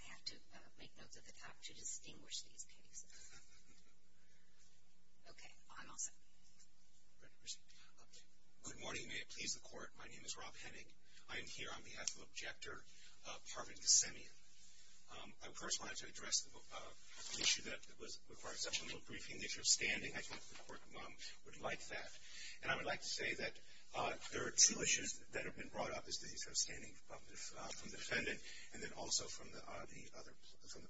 I have to make notes at the top to distinguish these cases. Okay, I'm all set. Good morning, may it please the Court. My name is Rob Henig. I am here on behalf of Objector, Parvin Gassemian. I first wanted to address the issue that required such a little briefing, the issue of standing. I think the Court would like that. And I would like to say that there are two issues that have been brought up as to the issue of standing from the defendant and then also from the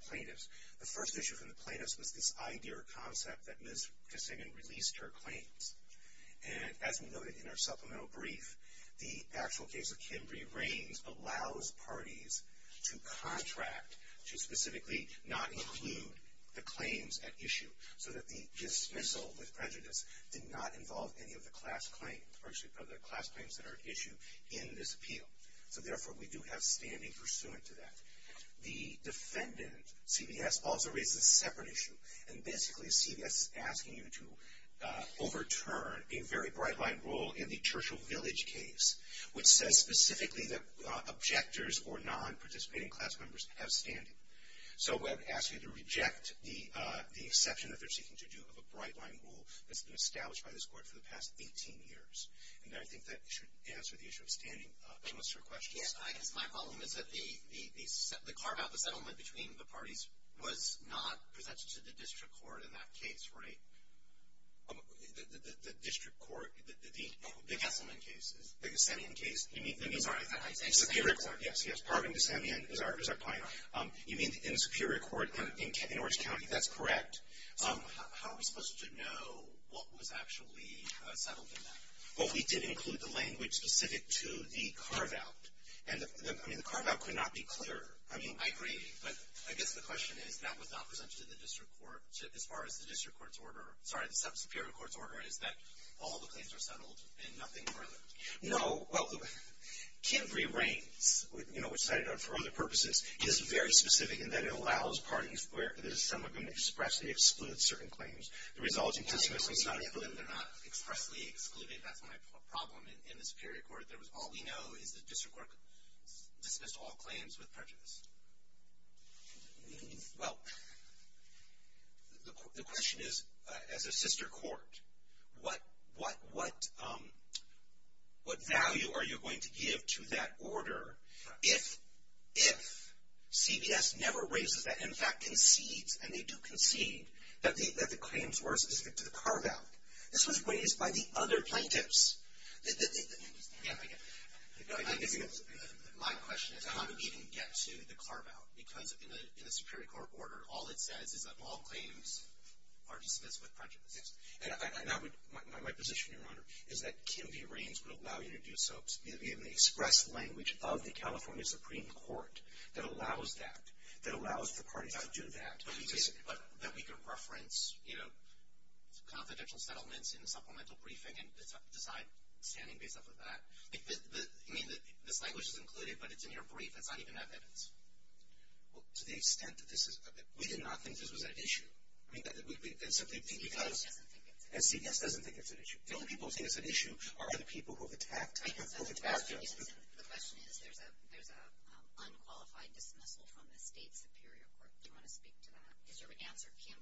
plaintiffs. The first issue from the plaintiffs was this idea or concept that Ms. Gassemian released her claims. And as we noted in our supplemental brief, the actual case of Kimberley Reins allows parties to contract, to specifically not include the claims at issue, so that the dismissal with prejudice did not involve any of the class claims that are at issue in this appeal. So therefore, we do have standing pursuant to that. The defendant, CVS, also raises a separate issue. And basically, CVS is asking you to overturn a very bright-line rule in the Churchill Village case, which says specifically that objectors or non-participating class members have standing. So it would ask you to reject the exception that they're seeking to do of a bright-line rule that's been established by this Court for the past 18 years. And I think that should answer the issue of standing. Unless there are questions. Yes, I guess my problem is that the carve-out, the settlement between the parties, was not presented to the district court in that case, right? The district court? The Gassemian case. The Gassemian case. I'm sorry. Yes, yes. Parvin, Gassemian is our plaintiff. You mean in the Superior Court in Orange County? That's correct. How are we supposed to know what was actually settled in that? Well, we did include the language specific to the carve-out. And the carve-out could not be clearer. I agree. But I guess the question is that was not presented to the district court as far as the district court's order. Sorry, the sub-Superior Court's order is that all the claims are settled and nothing further. No. Well, Kimberley Reins, which cited for other purposes, is very specific in that it allows parties where some are going to expressly exclude certain claims. They're not expressly excluding. That's my problem in the Superior Court. All we know is the district court dismissed all claims with prejudice. Well, the question is, as a sister court, what value are you going to give to that order if CBS never raises that, and in fact concedes, and they do concede, that the claims were specific to the carve-out? This was raised by the other plaintiffs. My question is, how did we even get to the carve-out? Because in the Superior Court order, all it says is that all claims are dismissed with prejudice. Yes. And my position, Your Honor, is that Kimberley Reins would allow you to do so, in the express language of the California Supreme Court, that allows that, that allows the parties to do that. But you say that we can reference, you know, confidential settlements in the supplemental briefing and decide standing based off of that. You mean that this language is included, but it's in your brief. It's not even evidence. Well, to the extent that this is, we did not think this was an issue. I mean, simply because. CBS doesn't think it's an issue. CBS doesn't think it's an issue. The only people who think it's an issue are the people who have attacked us. The question is, there's an unqualified dismissal from the State Superior Court. Do you want to speak to that? Is there an answer, Kim?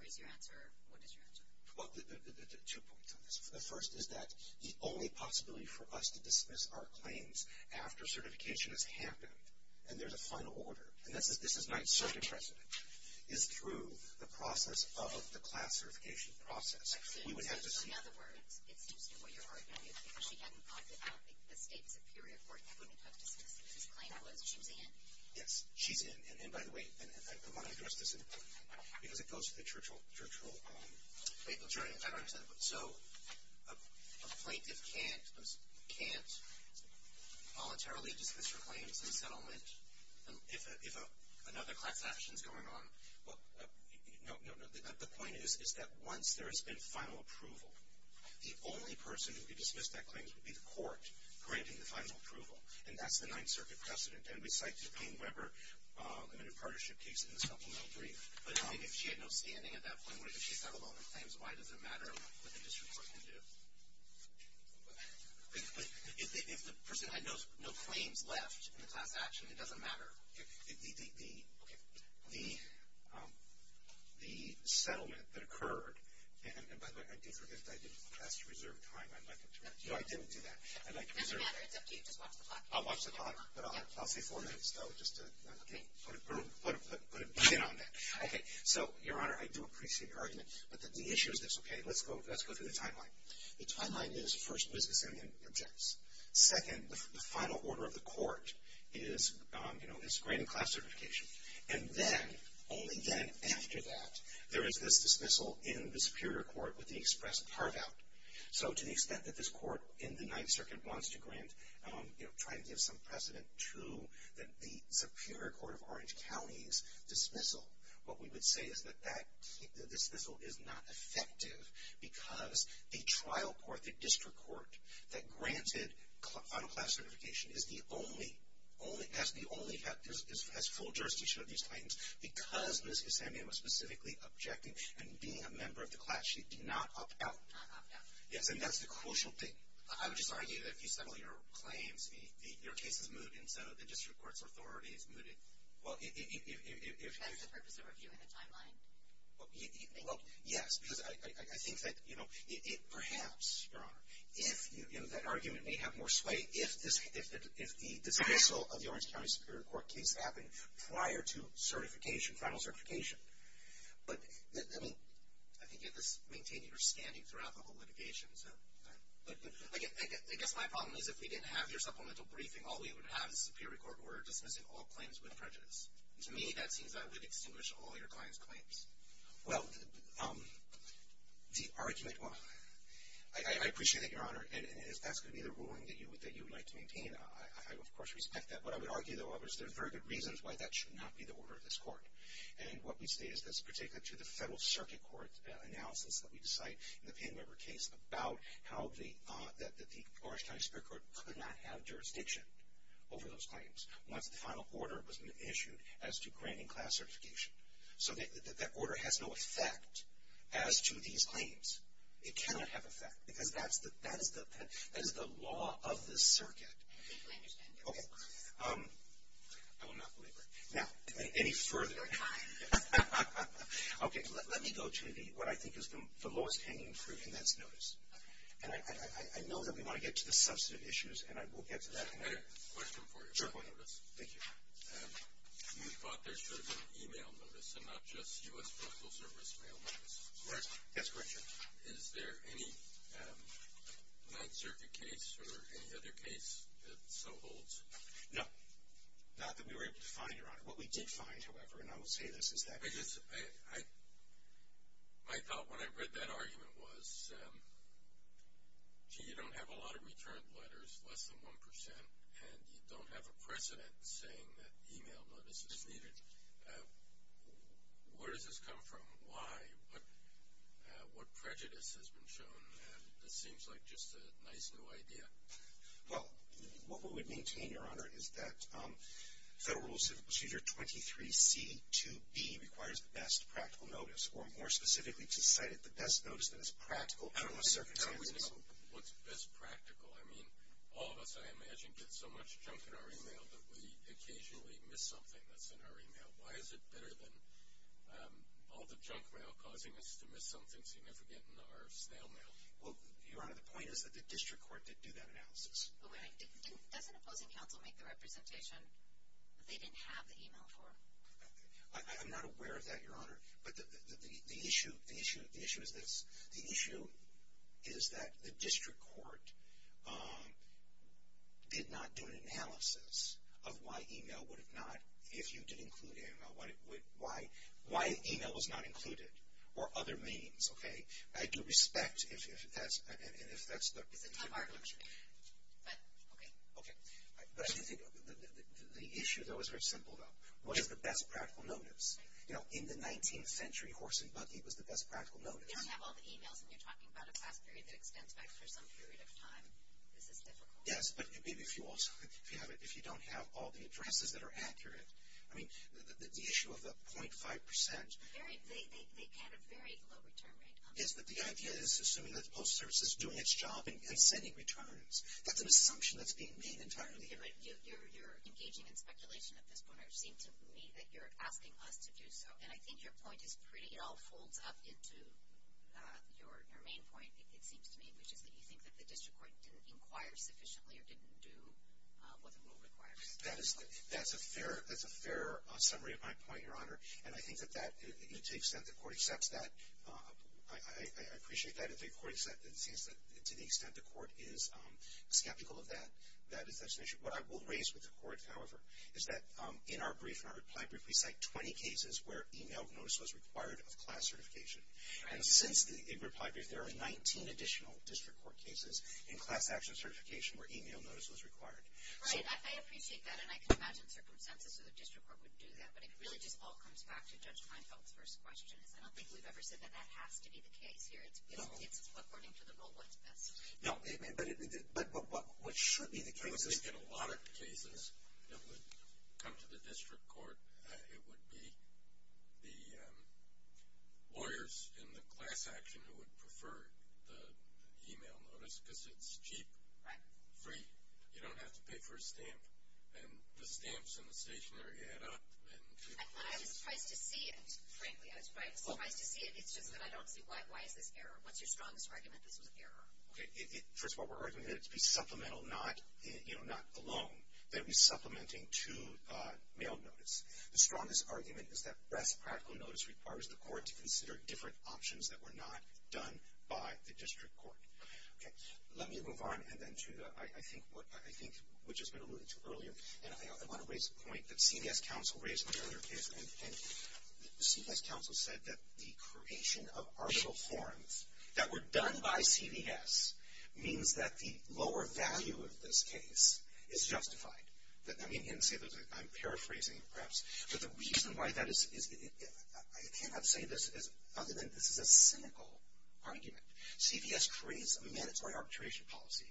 Or is your answer, what is your answer? Well, there are two points on this. The first is that the only possibility for us to dismiss our claims after certification has happened, and there's a final order, and this is not certain precedent, is through the process of the class certification process. So, in other words, it seems to me what you're arguing is because she hadn't talked about the State Superior Court when we talked about dismissals. His claim was she was in. Yes, she's in. And, by the way, I want to address this, because it goes to the church role. Wait, I'm sorry. I don't understand. So, a plaintiff can't voluntarily dismiss her claims in settlement if another class action is going on? No, no, no. The point is, is that once there has been final approval, the only person who could dismiss that claim would be the court granting the final approval, and that's the Ninth Circuit precedent, and we cite the Payne-Weber Limited Partnership case in the supplemental brief. But if she had no standing at that point, what if she settled all her claims? Why does it matter what the district court can do? If the person had no claims left in the class action, it doesn't matter. The settlement that occurred, and, by the way, I do forget that I didn't ask to reserve time. No, I didn't do that. It doesn't matter. It's up to you. Just watch the clock. I'll watch the clock, but I'll say four minutes, though, just to put a pin on that. Okay. So, Your Honor, I do appreciate your argument, but the issue is this, okay? Let's go through the timeline. The timeline is, first, Ms. Gassanian objects. Second, the final order of the court is, you know, is granting class certification. And then, only then, after that, there is this dismissal in the Superior Court with the express carve-out. So, to the extent that this court in the Ninth Circuit wants to grant, you know, try to give some precedent to the Superior Court of Orange County's dismissal, what we would say is that that dismissal is not effective because the trial court, the district court, that granted final class certification is the only, has the only, has full jurisdiction of these claims because Ms. Gassanian was specifically objective in being a member of the class. She did not opt out. Not opt out. Yes, and that's the crucial thing. I would just argue that if you settle your claims, your case is mooted, instead of the district court's authority is mooted. That's the purpose of reviewing the timeline. Well, yes, because I think that, you know, perhaps, Your Honor, that argument may have more sway if the dismissal of the Orange County Superior Court case happened prior to certification, final certification. But, I mean, I think you have to maintain your standing throughout the whole litigation. I guess my problem is if we didn't have your supplemental briefing, all we would have is the Superior Court order dismissing all claims with prejudice. To me, that seems that would extinguish all your client's claims. Well, the argument, well, I appreciate it, Your Honor, and that's going to be the ruling that you would like to maintain. I, of course, respect that. What I would argue, though, is there are very good reasons why that should not be the order of this court. And what we say is, particularly to the Federal Circuit Court analysis that we decide in the Payne-Weber case about how they thought that the Orange County Superior Court could not have jurisdiction over those claims. Once the final order was issued as to granting class certification. So that order has no effect as to these claims. It cannot have effect because that is the law of this circuit. I completely understand that. Okay. I will not belabor it. Now, any further? I'm fine. Okay. Let me go to what I think is the lowest hanging fruit, and that's notice. Okay. And I know that we want to get to the substantive issues, and I will get to that in a minute. I have a question for you about notice. Sure, go ahead. Thank you. You thought there should have been an e-mail notice and not just U.S. Postal Service mail notice. Yes, that's correct, Your Honor. Is there any Ninth Circuit case or any other case that so holds? No. Not that we were able to find, Your Honor. What we did find, however, and I will say this, is that My thought when I read that argument was, gee, you don't have a lot of returned letters, less than 1%, and you don't have a precedent saying that e-mail notice is needed. Where does this come from? Why? What prejudice has been shown? And this seems like just a nice new idea. Well, what we would maintain, Your Honor, is that Federal Rule Procedure 23C2B requires the best practical notice, or more specifically, to cite the best notice that is practical under most circumstances. I don't really know what's best practical. I mean, all of us, I imagine, get so much junk in our e-mail that we occasionally miss something that's in our e-mail. Why is it better than all the junk mail causing us to miss something significant in our snail mail? Well, Your Honor, the point is that the district court did do that analysis. Okay. Doesn't opposing counsel make the representation that they didn't have the e-mail for? I'm not aware of that, Your Honor. But the issue is this. The issue is that the district court did not do an analysis of why e-mail would have not, if you did include e-mail, why e-mail was not included, or other means. Okay? I do respect if that's the case. It's a type argument. But, okay. Okay. But I do think the issue, though, is very simple, though. What is the best practical notice? You know, in the 19th century, horse and buggy was the best practical notice. You don't have all the e-mails, and you're talking about a class period that extends back for some period of time. Is this difficult? Yes. But maybe if you don't have all the addresses that are accurate. I mean, the issue of the .5 percent. They had a very low return rate. Yes, but the idea is assuming that the Postal Service is doing its job and sending returns. That's an assumption that's being made entirely. You're engaging in speculation at this point, or it seems to me that you're asking us to do so. And I think your point is pretty. It all folds up into your main point, it seems to me, which is that you think that the district court didn't inquire sufficiently or didn't do what the rule requires. That's a fair summary of my point, Your Honor. And I think that that, to the extent the court accepts that, I appreciate that. To the extent the court is skeptical of that, that is an issue. What I will raise with the court, however, is that in our brief, in our reply brief, we cite 20 cases where e-mail notice was required of class certification. And since the reply brief, there are 19 additional district court cases in class action certification where e-mail notice was required. Right, I appreciate that, and I can imagine circumstances where the district court would do that. But it really just all comes back to Judge Leinfeld's first question. I don't think we've ever said that that has to be the case here. It's according to the rule what's best. No, but what should be the case is. I would think in a lot of cases that would come to the district court, it would be the lawyers in the class action who would prefer the e-mail notice because it's cheap. Right. Free. You don't have to pay for a stamp. And the stamps and the stationery add up. I was surprised to see it, frankly. I was quite surprised to see it. It's just that I don't see why is this error. What's your strongest argument this was an error? First of all, we're arguing that it should be supplemental, not alone. That it be supplementing to e-mail notice. The strongest argument is that best practical notice requires the court to consider different options that were not done by the district court. Okay. Let me move on and then to the, I think, which has been alluded to earlier. And I want to raise a point that CVS counsel raised in another case. And CVS counsel said that the creation of arbitral forms that were done by CVS means that the lower value of this case is justified. I'm paraphrasing, perhaps. But the reason why that is, I cannot say this other than this is a cynical argument. CVS creates a mandatory arbitration policy.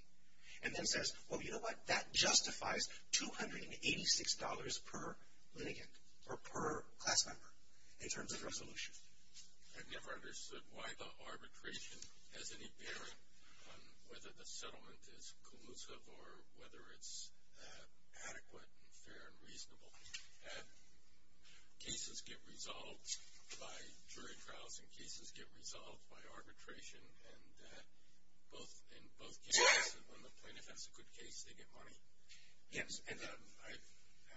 And then says, well, you know what, that justifies $286 per litigant or per class member in terms of resolution. I've never understood why the arbitration has any bearing on whether the settlement is collusive or whether it's adequate and fair and reasonable. Cases get resolved by jury trials and cases get resolved by arbitration. And both cases, when the plaintiff has a good case, they get money. Yes. And I've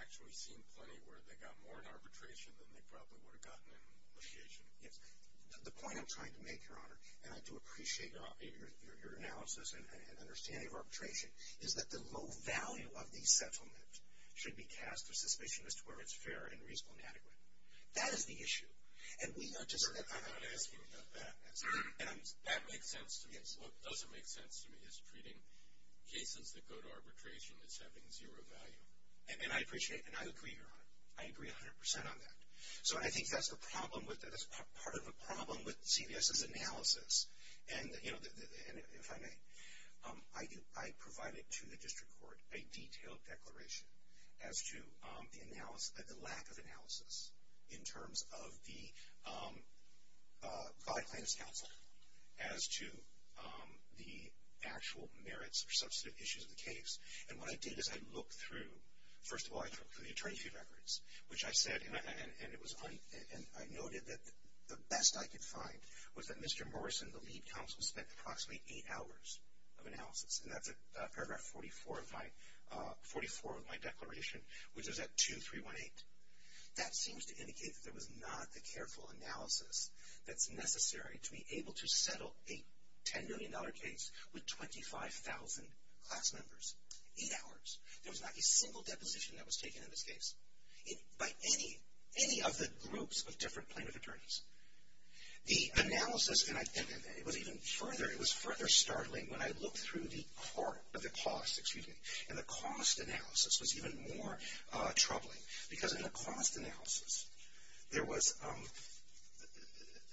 actually seen plenty where they got more in arbitration than they probably would have gotten in litigation. Yes. The point I'm trying to make, Your Honor, and I do appreciate your analysis and understanding of arbitration, is that the low value of the settlement should be cast for suspicion as to whether it's fair and reasonable and adequate. That is the issue. And we are just not asking about that. And that makes sense to me. What doesn't make sense to me is treating cases that go to arbitration as having zero value. And I appreciate and I agree, Your Honor. I agree 100% on that. So I think that's the problem with it. That's part of the problem with CVS's analysis. And, you know, if I may, I provided to the district court a detailed declaration as to the lack of analysis in terms of the by-plans counsel as to the actual merits or substantive issues of the case. And what I did is I looked through, first of all, I looked through the attorney fee records, which I said, and I noted that the best I could find was that Mr. Morrison, the lead counsel, spent approximately eight hours of analysis. And that's at paragraph 44 of my declaration, which is at 2318. That seems to indicate that there was not a careful analysis that's necessary to be able to settle a $10 million case with 25,000 class members. Eight hours. There was not a single deposition that was taken in this case. By any of the groups of different plaintiff attorneys. The analysis, and it was even further, it was further startling when I looked through the cost, excuse me, and the cost analysis was even more troubling. Because in the cost analysis, there was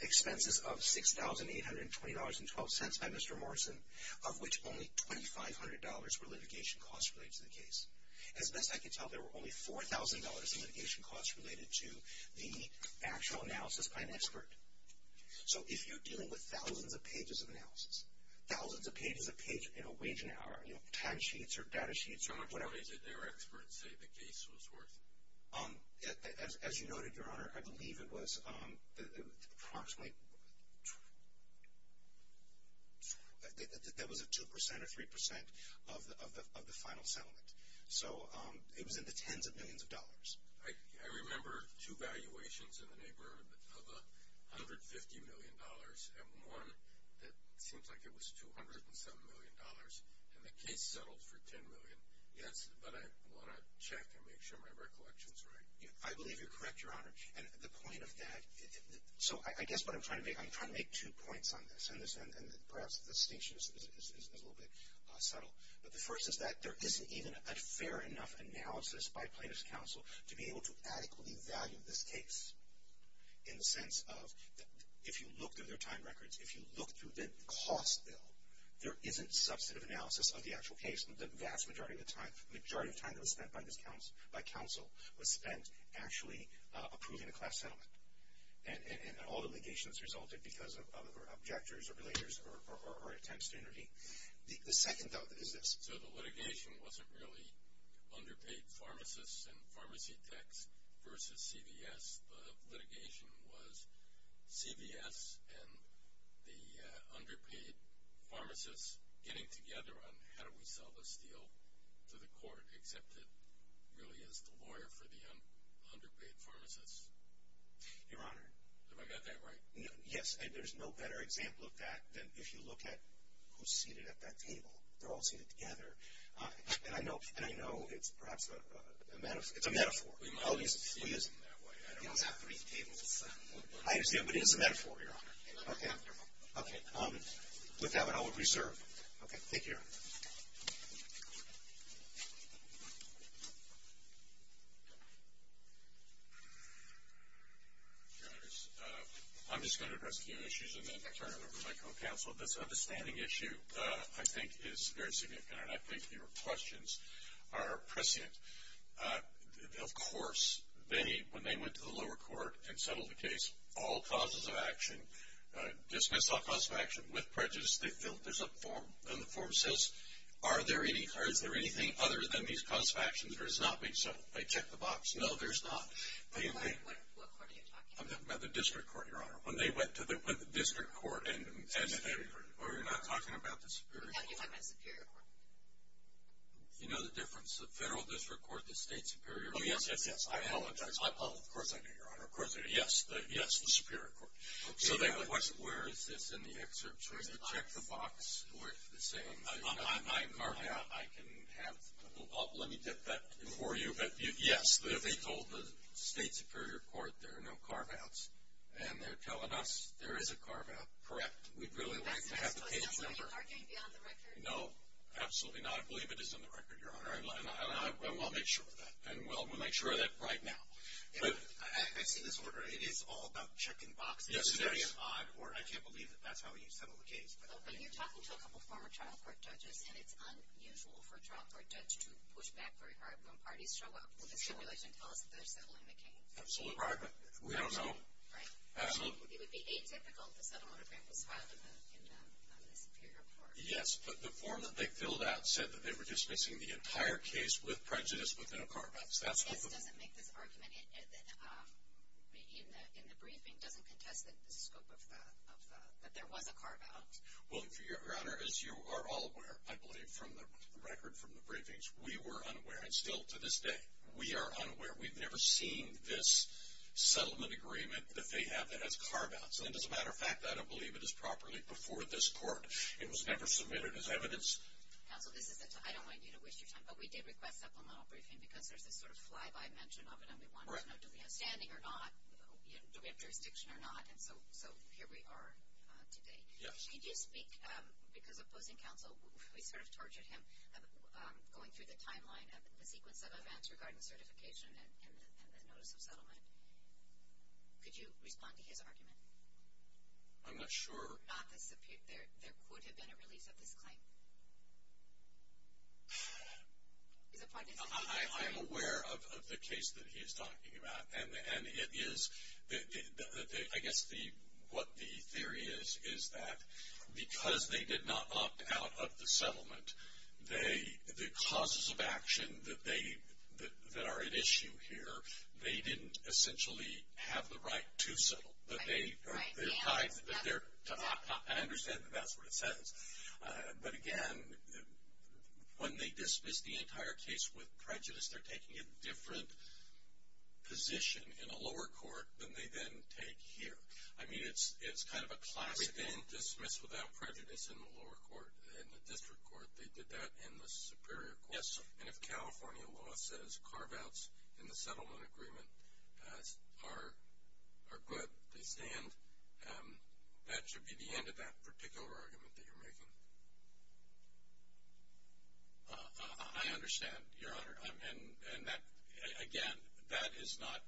expenses of $6,820.12 by Mr. Morrison, of which only $2,500 were litigation costs related to the case. As best I could tell, there were only $4,000 in litigation costs related to the actual analysis by an expert. So if you're dealing with thousands of pages of analysis, thousands of pages a page in a waging hour, you know, timesheets or data sheets. How much did their experts say the case was worth? As you noted, Your Honor, I believe it was approximately, that was a 2% or 3% of the final settlement. So it was in the tens of millions of dollars. I remember two valuations in the neighborhood of $150 million and one that seems like it was $207 million. And the case settled for $10 million. Yes, but I want to check and make sure my recollection is right. I believe you're correct, Your Honor. And the point of that, so I guess what I'm trying to make, I'm trying to make two points on this. And perhaps the distinction is a little bit subtle. But the first is that there isn't even a fair enough analysis by plaintiff's counsel to be able to adequately value this case. In the sense of, if you look through their time records, if you look through the cost bill, there isn't substantive analysis of the actual case. The vast majority of the time, the majority of time that was spent by counsel was spent actually approving a class settlement. And all the litigation that's resulted because of objectors or belayers or attempts to intervene. The second, though, is this. So the litigation wasn't really underpaid pharmacists and pharmacy techs versus CVS. The litigation was CVS and the underpaid pharmacists getting together on how do we sell this deal to the court, except it really is the lawyer for the underpaid pharmacists. Your Honor. Have I got that right? Yes. And there's no better example of that than if you look at who's seated at that table. They're all seated together. And I know it's perhaps a metaphor. It's a metaphor. Oh, he isn't. He doesn't have three tables. But it is a metaphor, Your Honor. Okay. With that, I will reserve. Okay. Thank you, Your Honor. Your Honor, I'm just going to address a few issues and then turn it over to my co-counsel. This understanding issue, I think, is very significant, and I think your questions are prescient. Of course, when they went to the lower court and settled the case, all causes of action, dismissed all causes of action with prejudice. There's a form, and the form says, are there any, or is there anything other than these causes of action that has not been settled? They check the box. No, there's not. What court are you talking about? I'm talking about the district court, Your Honor. When they went to the district court and settled it. Oh, you're not talking about the superior court? No, you're talking about the superior court. You know the difference? The federal district court, the state superior court. Oh, yes, yes, yes. I apologize. Of course I do, Your Honor. Of course I do. Yes, the superior court. Okay. Where is this in the excerpt? Check the box for the same. I can have, let me get that for you. Yes, they told the state superior court there are no carve-outs, and they're telling us there is a carve-out. Correct. We'd really like to have the case. Are you arguing beyond the record? No, absolutely not. I believe it is in the record, Your Honor. And we'll make sure of that. And we'll make sure of that right now. I see this order. It is all about checking boxes. Yes, it is. I can't believe that that's how you settle a case. When you're talking to a couple of former trial court judges, and it's unusual for a trial court judge to push back very hard when parties show up, will the stipulation tell us that they're settling the case? Absolutely. We don't know. Right? Absolutely. It would be atypical if the settlement agreement was filed in the superior court. Yes, but the form that they filled out said that they were dismissing the entire case with prejudice within a carve-out. This doesn't make this argument in the briefing doesn't contest the scope of that, that there was a carve-out. Well, Your Honor, as you are all aware, I believe, from the record from the briefings, we were unaware. And still to this day, we are unaware. We've never seen this settlement agreement that they have that has carve-outs. And as a matter of fact, I don't believe it is properly before this court. It was never submitted as evidence. Counsel, I don't want you to waste your time, but we did request supplemental briefing because there's this sort of fly-by mention of it, and we wanted to know do we have standing or not, do we have jurisdiction or not. And so here we are today. Could you speak, because opposing counsel, we sort of tortured him, going through the timeline of the sequence of events regarding certification and the notice of settlement. Could you respond to his argument? I'm not sure. There could have been a release of this claim. I'm aware of the case that he is talking about. And it is, I guess what the theory is, is that because they did not opt out of the settlement, the causes of action that are at issue here, they didn't essentially have the right to settle. I understand that that's what it says. But again, when they dismiss the entire case with prejudice, they're taking a different position in a lower court than they then take here. I mean it's kind of a classic. They didn't dismiss without prejudice in the lower court, in the district court. They did that in the superior court. Yes, sir. And if California law says carve-outs in the settlement agreement are good, they stand, that should be the end of that particular argument that you're making. I understand, Your Honor. And that, again, that is not,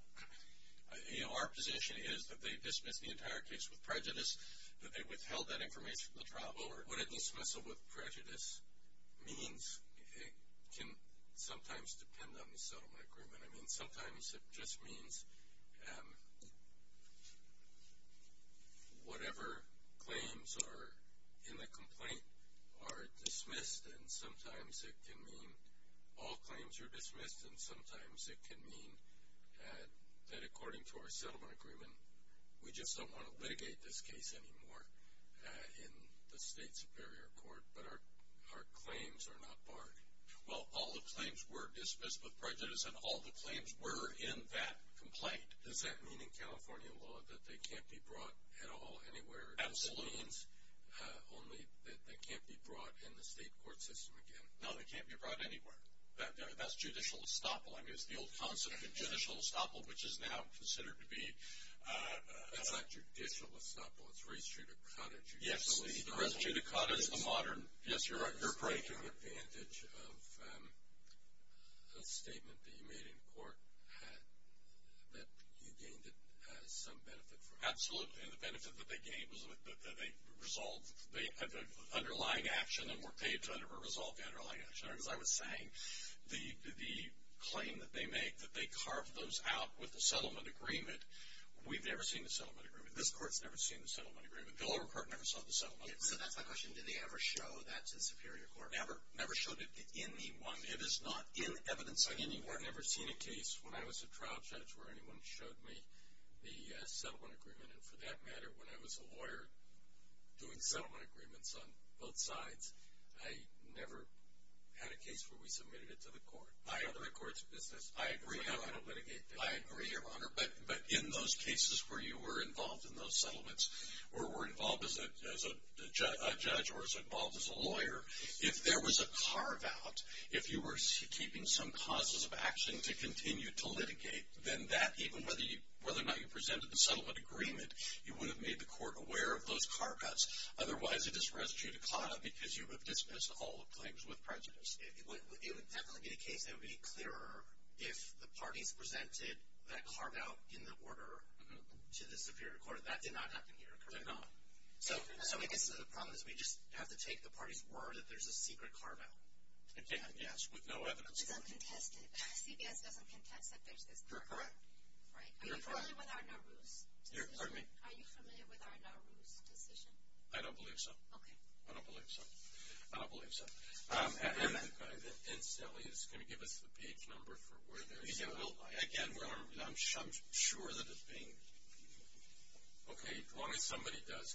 you know, our position is that they dismiss the entire case with prejudice, that they withheld that information from the trial. Well, what a dismissal with prejudice means can sometimes depend on the settlement agreement. I mean sometimes it just means whatever claims are in the complaint are dismissed, and sometimes it can mean all claims are dismissed, and sometimes it can mean that according to our settlement agreement, we just don't want to litigate this case anymore in the state superior court, but our claims are not barred. Well, all the claims were dismissed with prejudice, and all the claims were in that complaint. Does that mean in California law that they can't be brought at all anywhere? Absolutely. That means only that they can't be brought in the state court system again? No, they can't be brought anywhere. That's judicial estoppel. I mean it's the old concept of judicial estoppel, which is now considered to be... That's not judicial estoppel, it's res judicata. Yes, the res judicata is the modern... Yes, you're right. Taking advantage of a statement that you made in court that you gained some benefit from... Absolutely, and the benefit that they gained was that they resolved the underlying action and were paid to resolve the underlying action. As I was saying, the claim that they make that they carved those out with the settlement agreement, we've never seen the settlement agreement. This court's never seen the settlement agreement. Delaware court never saw the settlement agreement. So that's my question. Did they ever show that to the superior court? Never showed it to anyone. It is not in evidence anywhere. I've never seen a case when I was a trial judge where anyone showed me the settlement agreement, and for that matter when I was a lawyer doing settlement agreements on both sides, I never had a case where we submitted it to the court or the court's business. I agree. I don't litigate. I agree, Your Honor, but in those cases where you were involved in those settlements or were involved as a judge or was involved as a lawyer, if there was a carve out, if you were keeping some causes of action to continue to litigate, then that, even whether or not you presented the settlement agreement, you would have made the court aware of those carve outs. Otherwise, it is res judicata because you would have dismissed all the claims with prejudice. It would definitely be the case that it would be clearer if the parties presented that carve out in the order to the superior court. That did not happen here, correct? It did not. So I guess the problem is we just have to take the party's word that there's a secret carve out. Again, yes, with no evidence. It's uncontested. CBS doesn't contest that there's this carve out. You're correct. Right? Are you familiar with our Nowruz decision? Pardon me? Are you familiar with our Nowruz decision? I don't believe so. Okay. I don't believe so. I don't believe so. And Sally is going to give us the page number for where there's an outline. Again, I'm sure that it's being reviewed. Okay, as long as somebody does.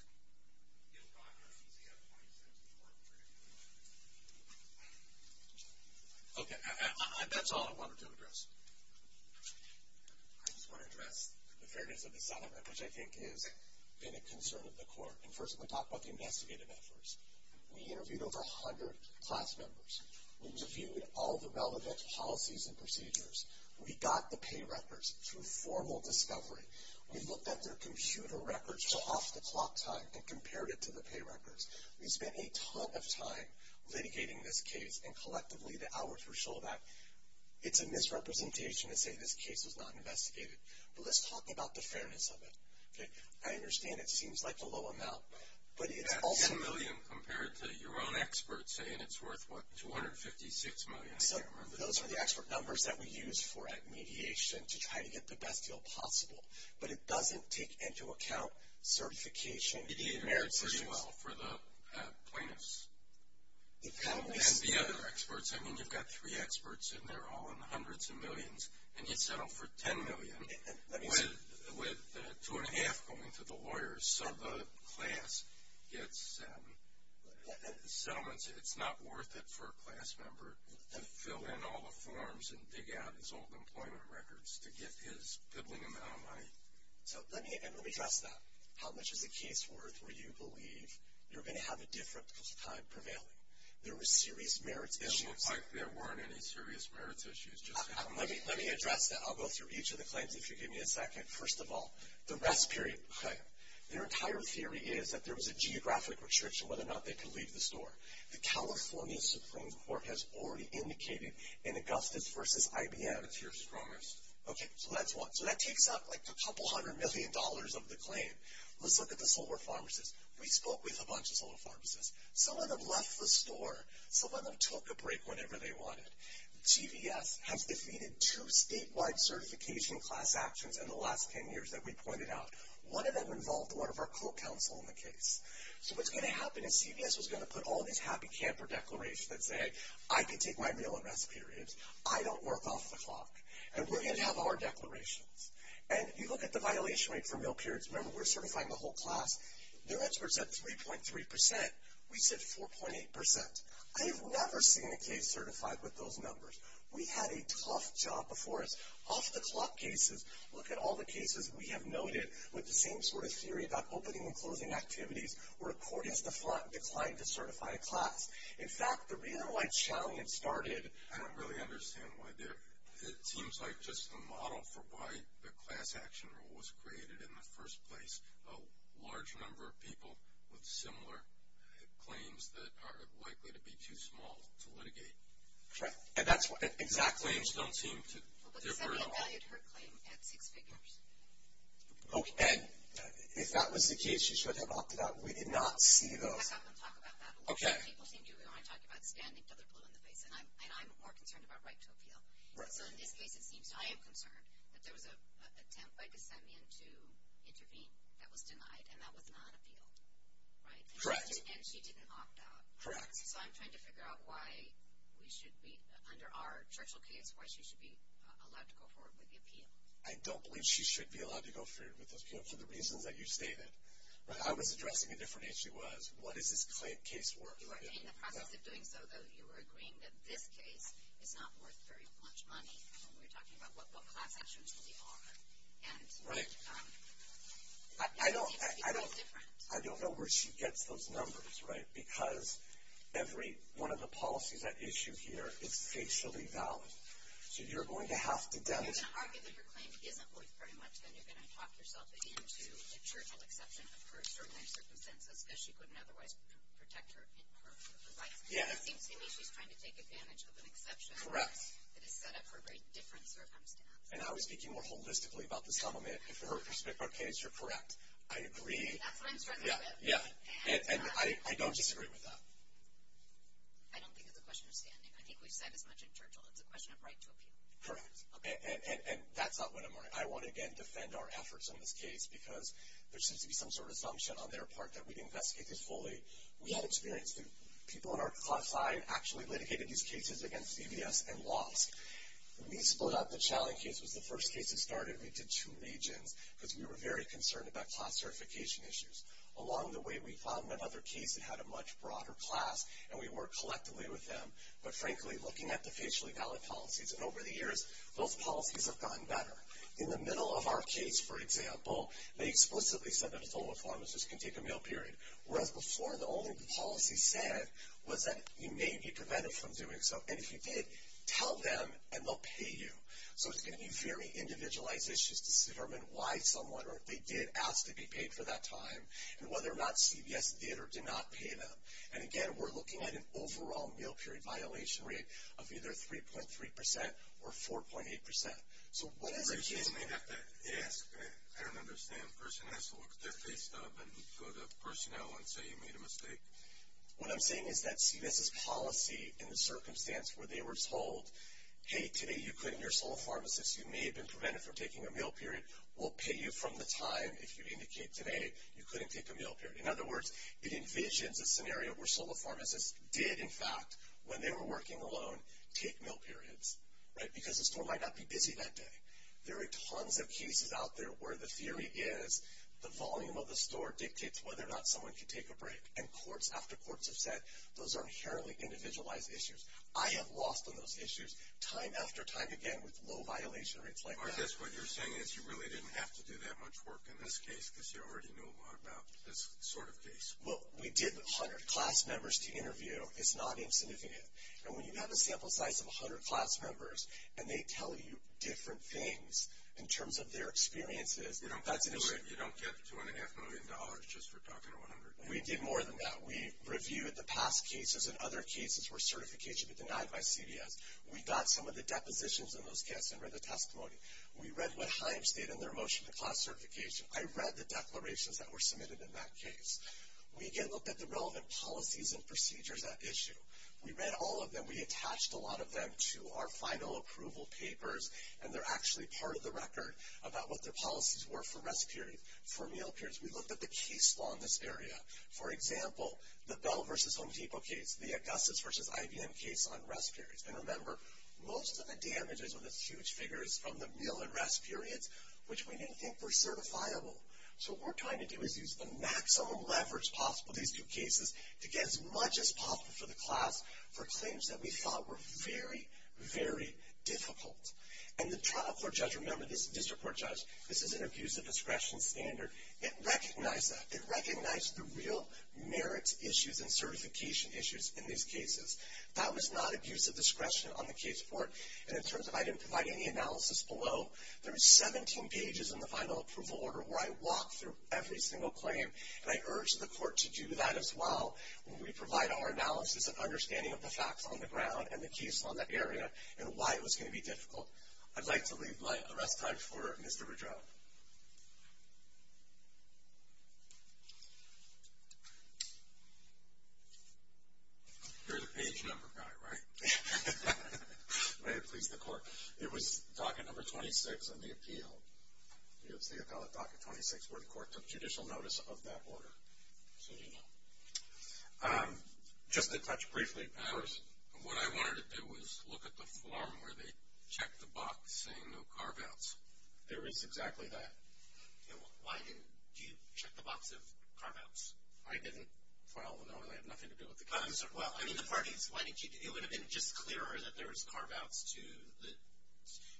Okay, that's all I wanted to address. I just want to address the fairness of the settlement, which I think has been a concern of the court. And first I'm going to talk about the investigative efforts. We interviewed over 100 class members. We reviewed all the relevant policies and procedures. We got the pay records through formal discovery. We looked at their computer records off the clock time and compared it to the pay records. We spent a ton of time litigating this case, and collectively the hours were so that it's a misrepresentation to say this case was not investigated. But let's talk about the fairness of it. I understand it seems like a low amount, but it's also. That's $10 million compared to your own experts saying it's worth, what, $256 million. So those are the expert numbers that we use for mediation to try to get the best deal possible. But it doesn't take into account certification. It did pretty well for the plaintiffs. And the other experts. I mean, you've got three experts, and they're all in the hundreds of millions, and you settle for $10 million with two and a half going to the lawyers. So the class gets settlements. It's not worth it for a class member to fill in all the forms and dig out his old employment records to get his piddling amount of money. So let me address that. How much is a case worth where you believe you're going to have a different time prevailing? There were serious merits issues. It looks like there weren't any serious merits issues. Let me address that. I'll go through each of the claims if you'll give me a second. First of all, the rest period. Their entire theory is that there was a geographic restriction whether or not they could leave the store. The California Supreme Court has already indicated in Augustus v. IBM. That's your strongest. Okay, so that's one. So that takes up like a couple hundred million dollars of the claim. Let's look at the solar pharmacists. We spoke with a bunch of solar pharmacists. Some of them left the store. Some of them took a break whenever they wanted. CVS has defeated two statewide certification class actions in the last 10 years that we pointed out. One of them involved one of our co-counsel in the case. So what's going to happen is CVS is going to put all these happy camper declarations that say, I can take my meal and rest periods. I don't work off the clock. And we're going to have our declarations. And you look at the violation rate for meal periods. Remember, we're certifying the whole class. Their answer was at 3.3%. We said 4.8%. I have never seen a case certified with those numbers. We had a tough job before us. Off the clock cases, look at all the cases we have noted with the same sort of theory about opening and closing activities where a court has declined to certify a class. In fact, the reason why Chalian started. I don't really understand why they're. It seems like just a model for why the class action rule was created in the first place. A large number of people with similar claims that are likely to be too small to litigate. Correct. And that's exactly. Claims don't seem to differ at all. Well, but Sandy devalued her claim at six figures. Okay. And if that was the case, you should have opted out. We did not see those. I'm not going to talk about that. Okay. People seem to want to talk about standing until they're blue in the face, and I'm more concerned about right to appeal. Right. So in this case, it seems I am concerned that there was an attempt by DeSemian to intervene that was denied, and that was not appealed. Right? Correct. And she didn't opt out. Correct. So I'm trying to figure out why we should be, under our Churchill case, why she should be allowed to go forward with the appeal. I don't believe she should be allowed to go forward with the appeal for the reasons that you stated. I was addressing a different issue. The issue was, what is this case worth? Right. In the process of doing so, though, you were agreeing that this case is not worth very much money. And we were talking about what class actions we are. Right. And that seems to be quite different. I don't know where she gets those numbers, right, because every one of the policies at issue here is facially valid. So you're going to have to demonstrate. If you're going to argue that your claim isn't worth very much, then you're going to talk yourself into a Churchill exception for certain circumstances because she couldn't otherwise protect her rights. Yeah. It seems to me she's trying to take advantage of an exception. Correct. That is set up for a very different circumstance. And I was speaking more holistically about this element. If, for her perspective, our case, you're correct. I agree. That's what I'm trying to do. Yeah. And I don't disagree with that. I don't think it's a question of standing. I think we've said as much in Churchill. It's a question of right to appeal. Correct. And that's not what I'm arguing. I want to, again, defend our efforts on this case because there seems to be some sort of assumption on their part that we've investigated fully. We had experience. The people on our class side actually litigated these cases against CBS and lost. When we split up, the challenge case was the first case that started. We did two legions because we were very concerned about class certification issues. Along the way, we found another case that had a much broader class, and we worked collectively with them. But, frankly, looking at the facially valid policies, and over the years, those policies have gotten better. In the middle of our case, for example, they explicitly said that a fellow pharmacist can take a meal period, whereas before the only policy said was that you may be prevented from doing so. And if you did, tell them and they'll pay you. So it's going to be very individualized issues to determine why someone or if they did ask to be paid for that time and whether or not CBS did or did not pay them. And, again, we're looking at an overall meal period violation rate of either 3.3% or 4.8%. So what is a case... A person may have to ask. I don't understand. A person has to look their face up and go to personnel and say you made a mistake? What I'm saying is that CBS's policy in the circumstance where they were told, hey, today you couldn't, you're a sole pharmacist, you may have been prevented from taking a meal period, we'll pay you from the time if you indicate today you couldn't take a meal period. In other words, it envisions a scenario where sole pharmacists did, in fact, when they were working alone, take meal periods, right, because the store might not be busy that day. There are tons of cases out there where the theory is the volume of the store dictates whether or not someone can take a break. And courts after courts have said those are inherently individualized issues. I have lost on those issues time after time again with low violation rates like that. I guess what you're saying is you really didn't have to do that much work in this case because you already knew a lot about this sort of case. Well, we did 100 class members to interview. It's not insignificant. And when you have a sample size of 100 class members and they tell you different things in terms of their experiences, that's an issue. You don't get $2.5 million just for talking to 100 people. We did more than that. We reviewed the past cases, and other cases were certification but denied by CBS. We got some of the depositions in those cases and read the testimony. We read what Himes did in their motion to cause certification. I read the declarations that were submitted in that case. We, again, looked at the relevant policies and procedures at issue. We read all of them. We attached a lot of them to our final approval papers, and they're actually part of the record about what their policies were for rest periods, for meal periods. We looked at the case law in this area. For example, the Bell v. Home Depot case, the Augustus v. IBM case on rest periods. And remember, most of the damages on this huge figure is from the meal and rest periods, which we didn't think were certifiable. So what we're trying to do is use the maximum leverage possible in these two cases to get as much as possible for the class for claims that we thought were very, very difficult. And the trial court judge, remember this district court judge, this is an abusive discretion standard. It recognized that. It recognized the real merits issues and certification issues in these cases. That was not abusive discretion on the case court. And in terms of I didn't provide any analysis below, there was 17 pages in the final approval order where I walked through every single claim, and I urge the court to do that as well when we provide our analysis and understanding of the facts on the ground and the case law in that area and why it was going to be difficult. I'd like to leave my arrest time for Mr. Rudrow. You're the page number guy, right? May it please the court. It was docket number 26 on the appeal. It was the appellate docket 26 where the court took judicial notice of that order. So you know. Just to touch briefly, of course. What I wanted to do was look at the form where they checked the box saying no carve-outs. There is exactly that. Why didn't you check the box of carve-outs? I didn't. Well, no, it had nothing to do with the case. Well, I mean the parties. Why didn't you? It would have been just clearer that there was carve-outs to the,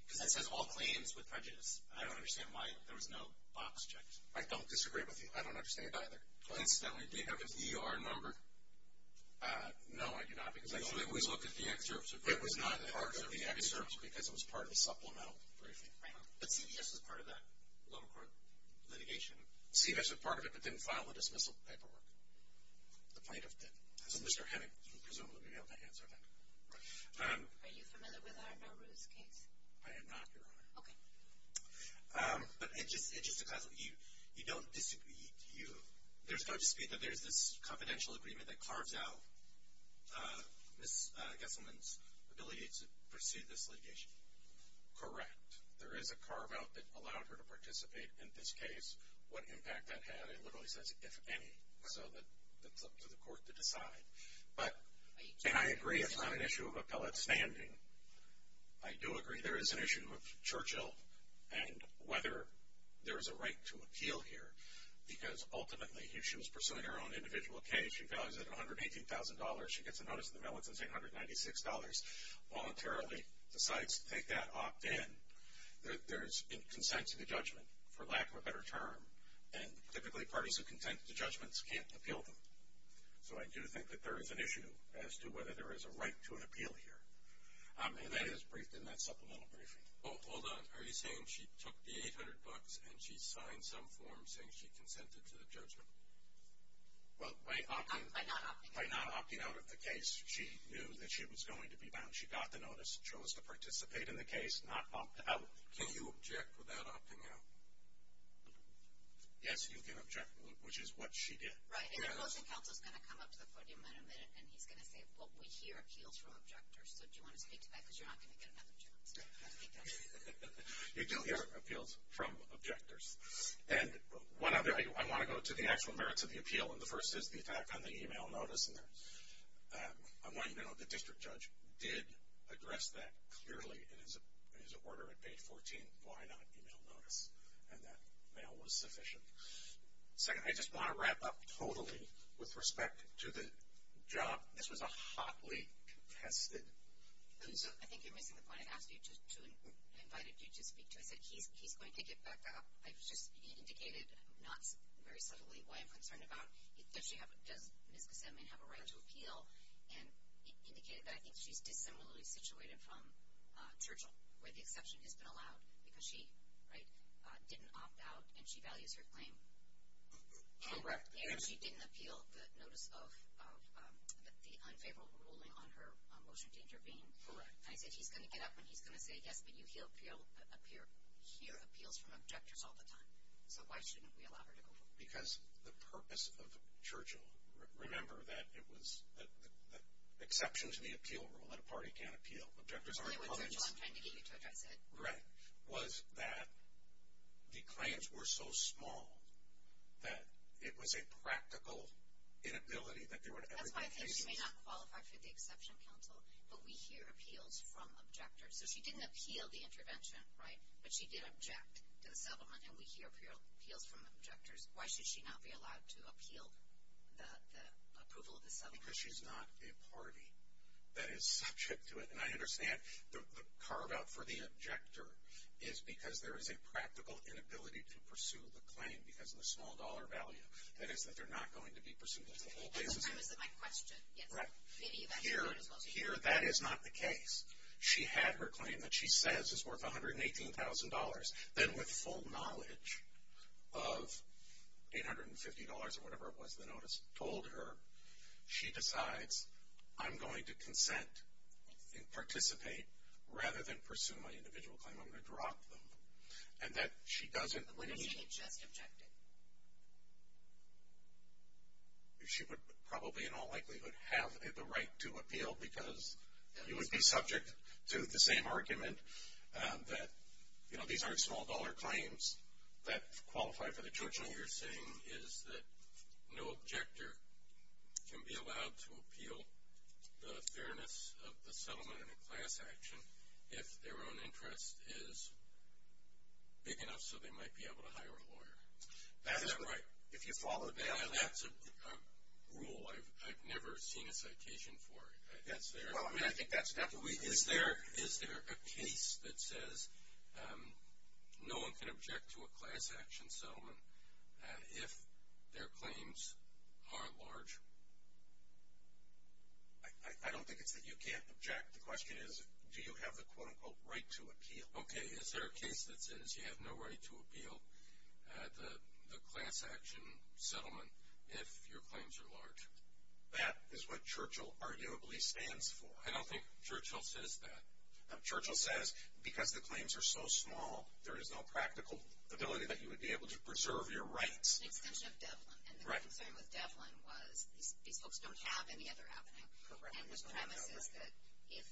because that says all claims with prejudice. I don't understand why there was no box checked. I don't disagree with you. I don't understand either. Incidentally, do you have an ER number? No, I do not. Because I always look at the excerpts. It was not part of the excerpts because it was part of the supplemental briefing. Right. But CVS was part of that lower court litigation. CVS was part of it but didn't file the dismissal paperwork. The plaintiff did. So Mr. Hennig, you can presume that we have the answer then. Right. Are you familiar with our Nowruz case? I am not, Your Honor. Okay. But it's just because you don't disagree with you. There's no dispute that there's this confidential agreement that carves out Ms. Gesselman's ability to pursue this litigation. Correct. There is a carve out that allowed her to participate in this case. What impact that had, it literally says, if any. So it's up to the court to decide. And I agree it's not an issue of appellate standing. I do agree there is an issue of Churchill and whether there is a right to appeal here. Because ultimately, she was pursuing her own individual case. She values it at $118,000. She gets a notice in the mail that says $896. Voluntarily decides to take that opt-in. There's a consent to the judgment, for lack of a better term. And typically, parties who consent to judgments can't appeal them. So I do think that there is an issue as to whether there is a right to an appeal here. And that is briefed in that supplemental briefing. Hold on. Are you saying she took the $800 and she signed some form saying she consented to the judgment? Well, by opting. By not opting. By opting out of the case, she knew that she was going to be bound. She got the notice, chose to participate in the case, not opt out. Can you object without opting out? Yes, you can object, which is what she did. Right. And the closing counsel is going to come up to the podium in a minute, and he's going to say, well, we hear appeals from objectors. So do you want to speak to that? Because you're not going to get another chance. You do hear appeals from objectors. And one other, I want to go to the actual merits of the appeal. And the first is the fact on the e-mail notice. And I want you to know the district judge did address that clearly in his order at page 14, why not e-mail notice, and that mail was sufficient. Second, I just want to wrap up totally with respect to the job. This was a hotly contested case. I think you're missing the point. I asked you to invite you to speak to it. I said he's going to get back up. I just indicated not very subtly why I'm concerned about it. Does Ms. Kasemian have a right to appeal? And it indicated that I think she's dissimilarly situated from Churchill, where the exception has been allowed because she didn't opt out and she values her claim. Correct. And she didn't appeal the notice of the unfavorable ruling on her motion to intervene. Correct. And I said he's going to get up and he's going to say, yes, but you hear appeals from objectors all the time. So why shouldn't we allow her to go forward? Because the purpose of Churchill, remember that it was the exception to the appeal rule, that a party can't appeal, objectors aren't colleagues. That's really what Churchill was trying to get you to address it. Right. Was that the claims were so small that it was a practical inability that they were in everybody's faces. That's why I think she may not qualify for the exception counsel, but we hear appeals from objectors. So she didn't appeal the intervention, right, but she did object to the settlement, and we hear appeals from objectors. Why should she not be allowed to appeal the approval of the settlement? Because she's not a party that is subject to it. And I understand the carve out for the objector is because there is a practical inability to pursue the claim because of the small dollar value. That is that they're not going to be pursued as a whole. That's the premise of my question. Here that is not the case. She had her claim that she says is worth $118,000. Then with full knowledge of $850 or whatever it was the notice told her, she decides I'm going to consent and participate rather than pursue my individual claim. I'm going to drop them. And that she doesn't need. What if she had just objected? She would probably in all likelihood have the right to appeal because you would be subject to the same argument that, you know, these aren't small dollar claims that qualify for the judgment. What you're saying is that no objector can be allowed to appeal the fairness of the settlement in a class action if their own interest is big enough so they might be able to hire a lawyer. That's right. If you follow the bailout. That's a rule I've never seen a citation for. That's there. Well, I mean, I think that's definitely. Is there a case that says no one can object to a class action settlement if their claims are large? I don't think it's that you can't object. The question is do you have the quote-unquote right to appeal? Okay. Is there a case that says you have no right to appeal the class action settlement if your claims are large? That is what Churchill arguably stands for. I don't think Churchill says that. Churchill says because the claims are so small, there is no practical ability that you would be able to preserve your rights. It's an extension of Devlin. And the concern with Devlin was these folks don't have any other avenue. And his premise is that if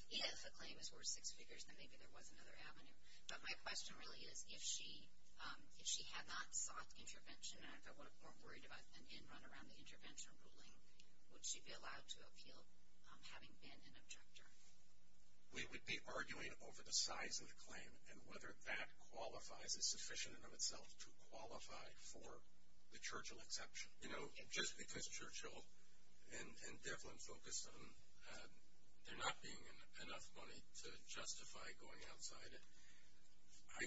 the claim is worth six figures, then maybe there was another avenue. But my question really is if she had not sought intervention, and I'm more worried about an end run around the intervention ruling, would she be allowed to appeal having been an objector? We would be arguing over the size of the claim and whether that qualifies as sufficient in and of itself to qualify for the Churchill exception. You know, just because Churchill and Devlin focused on there not being enough money to justify going outside it, I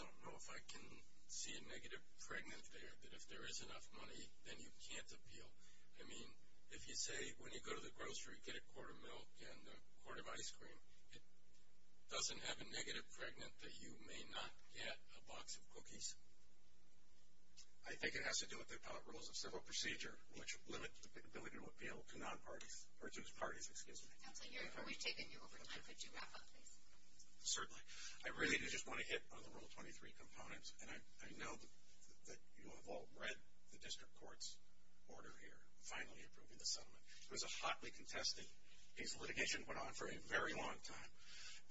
don't know if I can see a negative pregnant there that if there is enough money, then you can't appeal. I mean, if you say when you go to the grocery, get a quart of milk and a quart of ice cream, it doesn't have a negative pregnant that you may not get a box of cookies? I think it has to do with the appellate rules of civil procedure, which limit the ability to appeal to parties. Counsel, we've taken you over time. Could you wrap up, please? Certainly. I really do just want to hit on the Rule 23 components. And I know that you have all read the district court's order here, finally approving the settlement. It was a hotly contested piece of litigation. It went on for a very long time.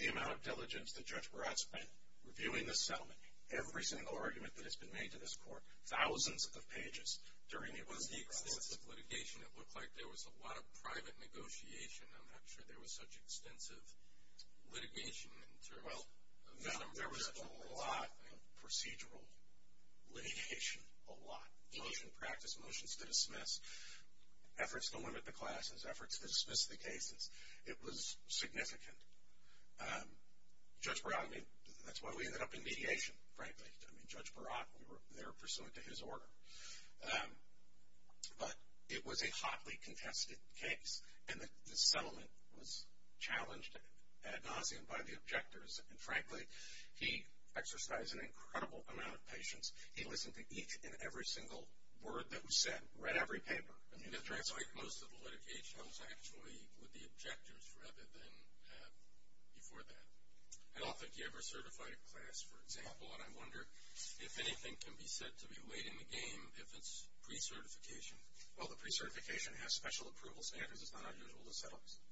The amount of diligence that Judge Barrett spent reviewing the settlement, every single argument that has been made to this court, thousands of pages. It was the extensive litigation. It looked like there was a lot of private negotiation. I'm not sure there was such extensive litigation. Well, there was a lot of procedural litigation, a lot. Motion to practice, motions to dismiss, efforts to limit the classes, efforts to dismiss the cases. It was significant. Judge Barrett, I mean, that's why we ended up in mediation, frankly. I mean, Judge Barrett, we were there pursuant to his order. But it was a hotly contested case, and the settlement was challenged ad nauseum by the objectors. And, frankly, he exercised an incredible amount of patience. He listened to each and every single word that was said, read every paper. Most of the litigation was actually with the objectors rather than before that. I don't think you ever certified a class, for example, and I wonder if anything can be said to be late in the game if it's pre-certification. Well, the pre-certification has special approval standards. It's not unusual to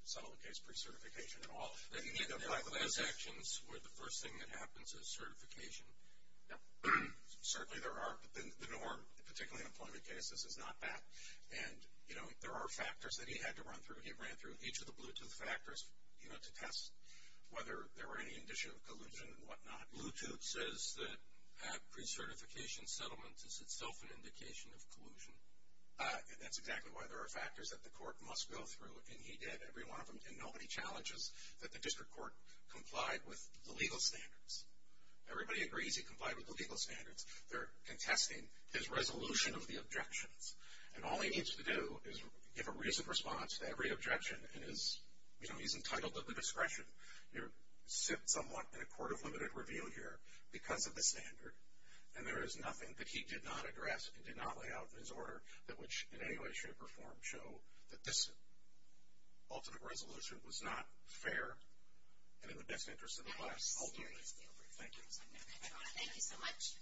settle a case pre-certification at all. Then you need to apply class actions where the first thing that happens is certification. Certainly there are, but the norm, particularly in employment cases, is not that. And, you know, there are factors that he had to run through. He ran through each of the Bluetooth factors, you know, to test whether there were any indicia of collusion and whatnot. Bluetooth says that pre-certification settlement is itself an indication of collusion. That's exactly why there are factors that the court must go through, and he did every one of them. And nobody challenges that the district court complied with the legal standards. Everybody agrees he complied with the legal standards. They're contesting his resolution of the objections, and all he needs to do is give a reasoned response to every objection, and, you know, he's entitled to the discretion. You sit somewhat in a court of limited review here because of the standard, and there is nothing that he did not address and did not lay out in his order that which in any way, shape, or form show that this ultimate resolution was not fair and in the best interest of the class, ultimately. Thank you. Thank you so much.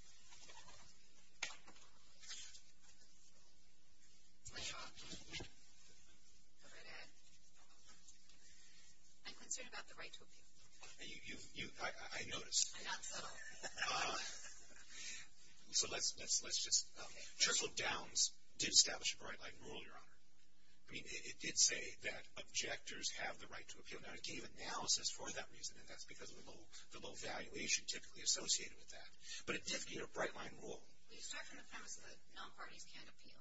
I'm concerned about the right to appeal. I noticed. I'm not so. So let's just. Churchill Downs did establish a bright light rule, Your Honor. I mean, it did say that objectors have the right to appeal. Now, it gave analysis for that reason, and that's because of the low valuation typically associated with that. But it did give a bright line rule. Well, you start from the premise that non-parties can't appeal.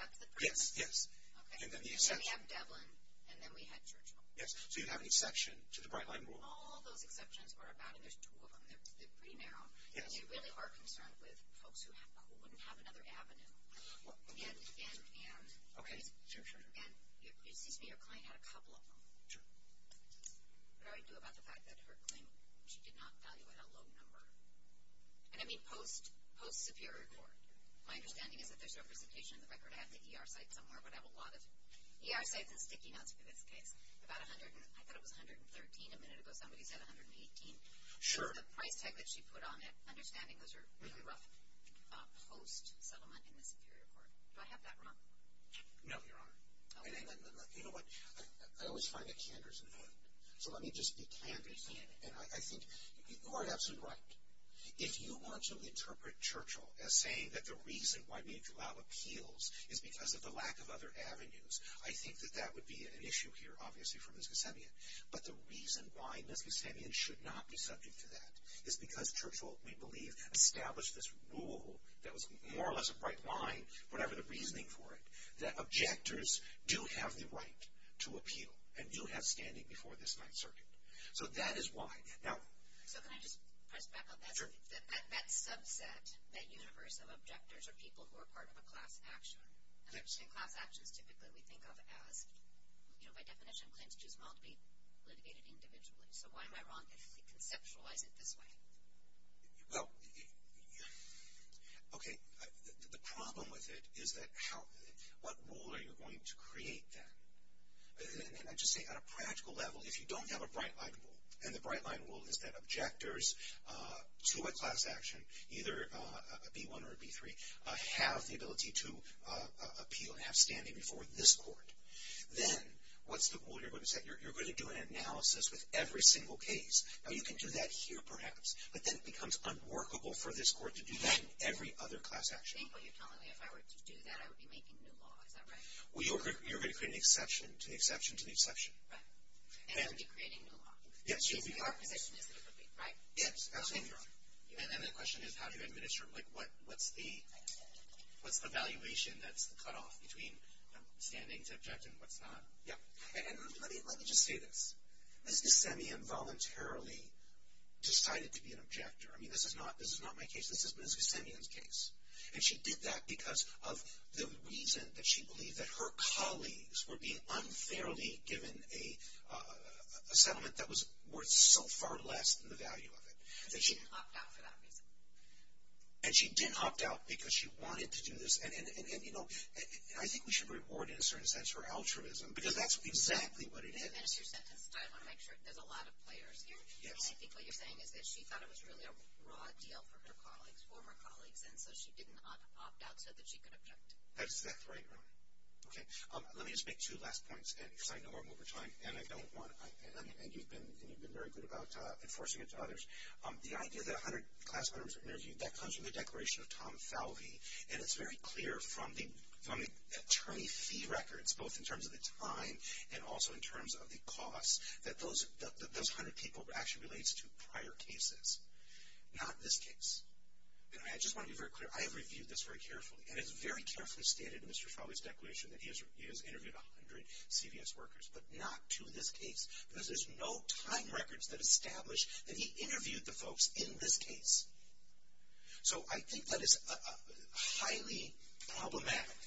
That's the premise? Yes, yes. Okay. And then we have Devlin, and then we had Churchill. Yes. So you have an exception to the bright line rule. All those exceptions are about, and there's two of them. They're pretty narrow. Yes. And they really are concerned with folks who wouldn't have another avenue. And, and, and. Okay. Sure, sure. And, excuse me, your client had a couple of them. Sure. What do I do about the fact that her claim she did not value at a low number? And I mean post, post-Superior Court. My understanding is that there's representation in the record. I have the ER site somewhere. I would have a lot of ER sites and sticky notes for this case. About 100, I thought it was 113 a minute ago. Somebody said 118. Sure. The price tag that she put on it, understanding those are really rough post-settlement in the Superior Court. Do I have that wrong? No, Your Honor. I mean, you know what? I always find that candor's important. So let me just be candid. And I think you are absolutely right. If you want to interpret Churchill as saying that the reason why Meade-Dulao appeals is because of the lack of other avenues, I think that that would be an issue here, obviously, for Mns. Gusevian. But the reason why Mns. Gusevian should not be subject to that is because Churchill, we believe, established this rule that was more or less a bright line, whatever the reasoning for it, that objectors do have the right to appeal and do have standing before this Ninth Circuit. So that is why. So can I just press back on that? Sure. That subset, that universe of objectors are people who are part of a class action. And class actions typically we think of as, by definition, claims too small to be litigated individually. So why am I wrong if we conceptualize it this way? Well, okay, the problem with it is that what rule are you going to create then? And I just say on a practical level, if you don't have a bright line rule, and the bright line rule is that objectors to a class action, either a B1 or a B3, have the ability to appeal and have standing before this court, then what's the rule you're going to set? You're going to do an analysis with every single case. Now, you can do that here perhaps, but then it becomes unworkable for this court to do that in every other class action. I think what you're telling me, if I were to do that, I would be making new law. Is that right? Well, you're going to create an exception to the exception to the exception. Right. And I'd be creating new law. Yes, you'll be creating new law. So your position is that it would be, right? Yes, absolutely. And then the question is, how do you administer it? Like, what's the valuation that's the cutoff between the standing subject and what's not? Let me just say this. Ms. Gissemian voluntarily decided to be an objector. I mean, this is not my case. This is Ms. Gissemian's case. And she did that because of the reason that she believed that her colleagues were being unfairly given a settlement that was worth so far less than the value of it. And she didn't opt out for that reason. And she didn't opt out because she wanted to do this. And, you know, I think we should reward, in a certain sense, her altruism because that's exactly what it is. And as you said, I want to make sure there's a lot of players here. Yes. And I think what you're saying is that she thought it was really a raw deal for her colleagues, for her colleagues, and so she didn't opt out so that she could object. That's exactly right. Okay. Let me just make two last points. And you're saying them over time, and I don't want to. And you've been very good about enforcing it to others. The idea that 100 class members were interviewed, that comes from the declaration of Tom Falvey. And it's very clear from the attorney fee records, both in terms of the time and also in terms of the cost, that those 100 people actually relates to prior cases, not this case. And I just want to be very clear. I have reviewed this very carefully. And it's very carefully stated in Mr. Falvey's declaration that he has interviewed 100 CVS workers, but not to this case because there's no time records that establish that he interviewed the folks in this case. So I think that is highly problematic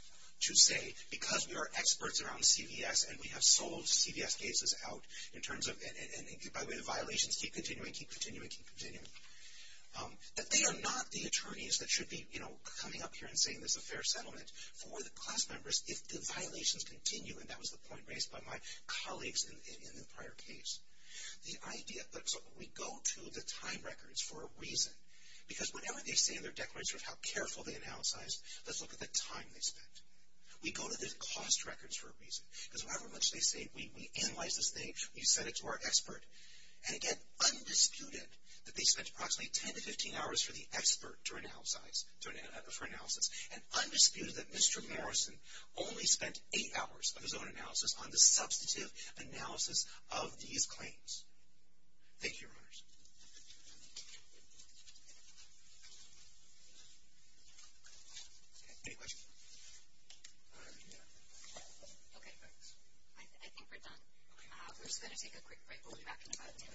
to say because we are experts around CVS and we have sold CVS cases out in terms of, and by the way, the violations keep continuing, keep continuing, keep continuing, that they are not the attorneys that should be, you know, coming up here and saying there's a fair settlement for the class members if the violations continue. And that was the point raised by my colleagues in the prior case. The idea, so we go to the time records for a reason. Because whatever they say in their declaration of how careful they analyze, let's look at the time they spent. We go to the cost records for a reason. Because however much they say, we analyze this thing, we send it to our expert. And again, undisputed that they spent approximately 10 to 15 hours for the expert to analyze, for analysis. And undisputed that Mr. Morrison only spent eight hours of his own analysis on the substantive analysis of these claims. Thank you, Your Honors. Any questions? Okay, I think we're done. We're just going to take a quick break. We'll be back in about 10 minutes. Thank you. All rise.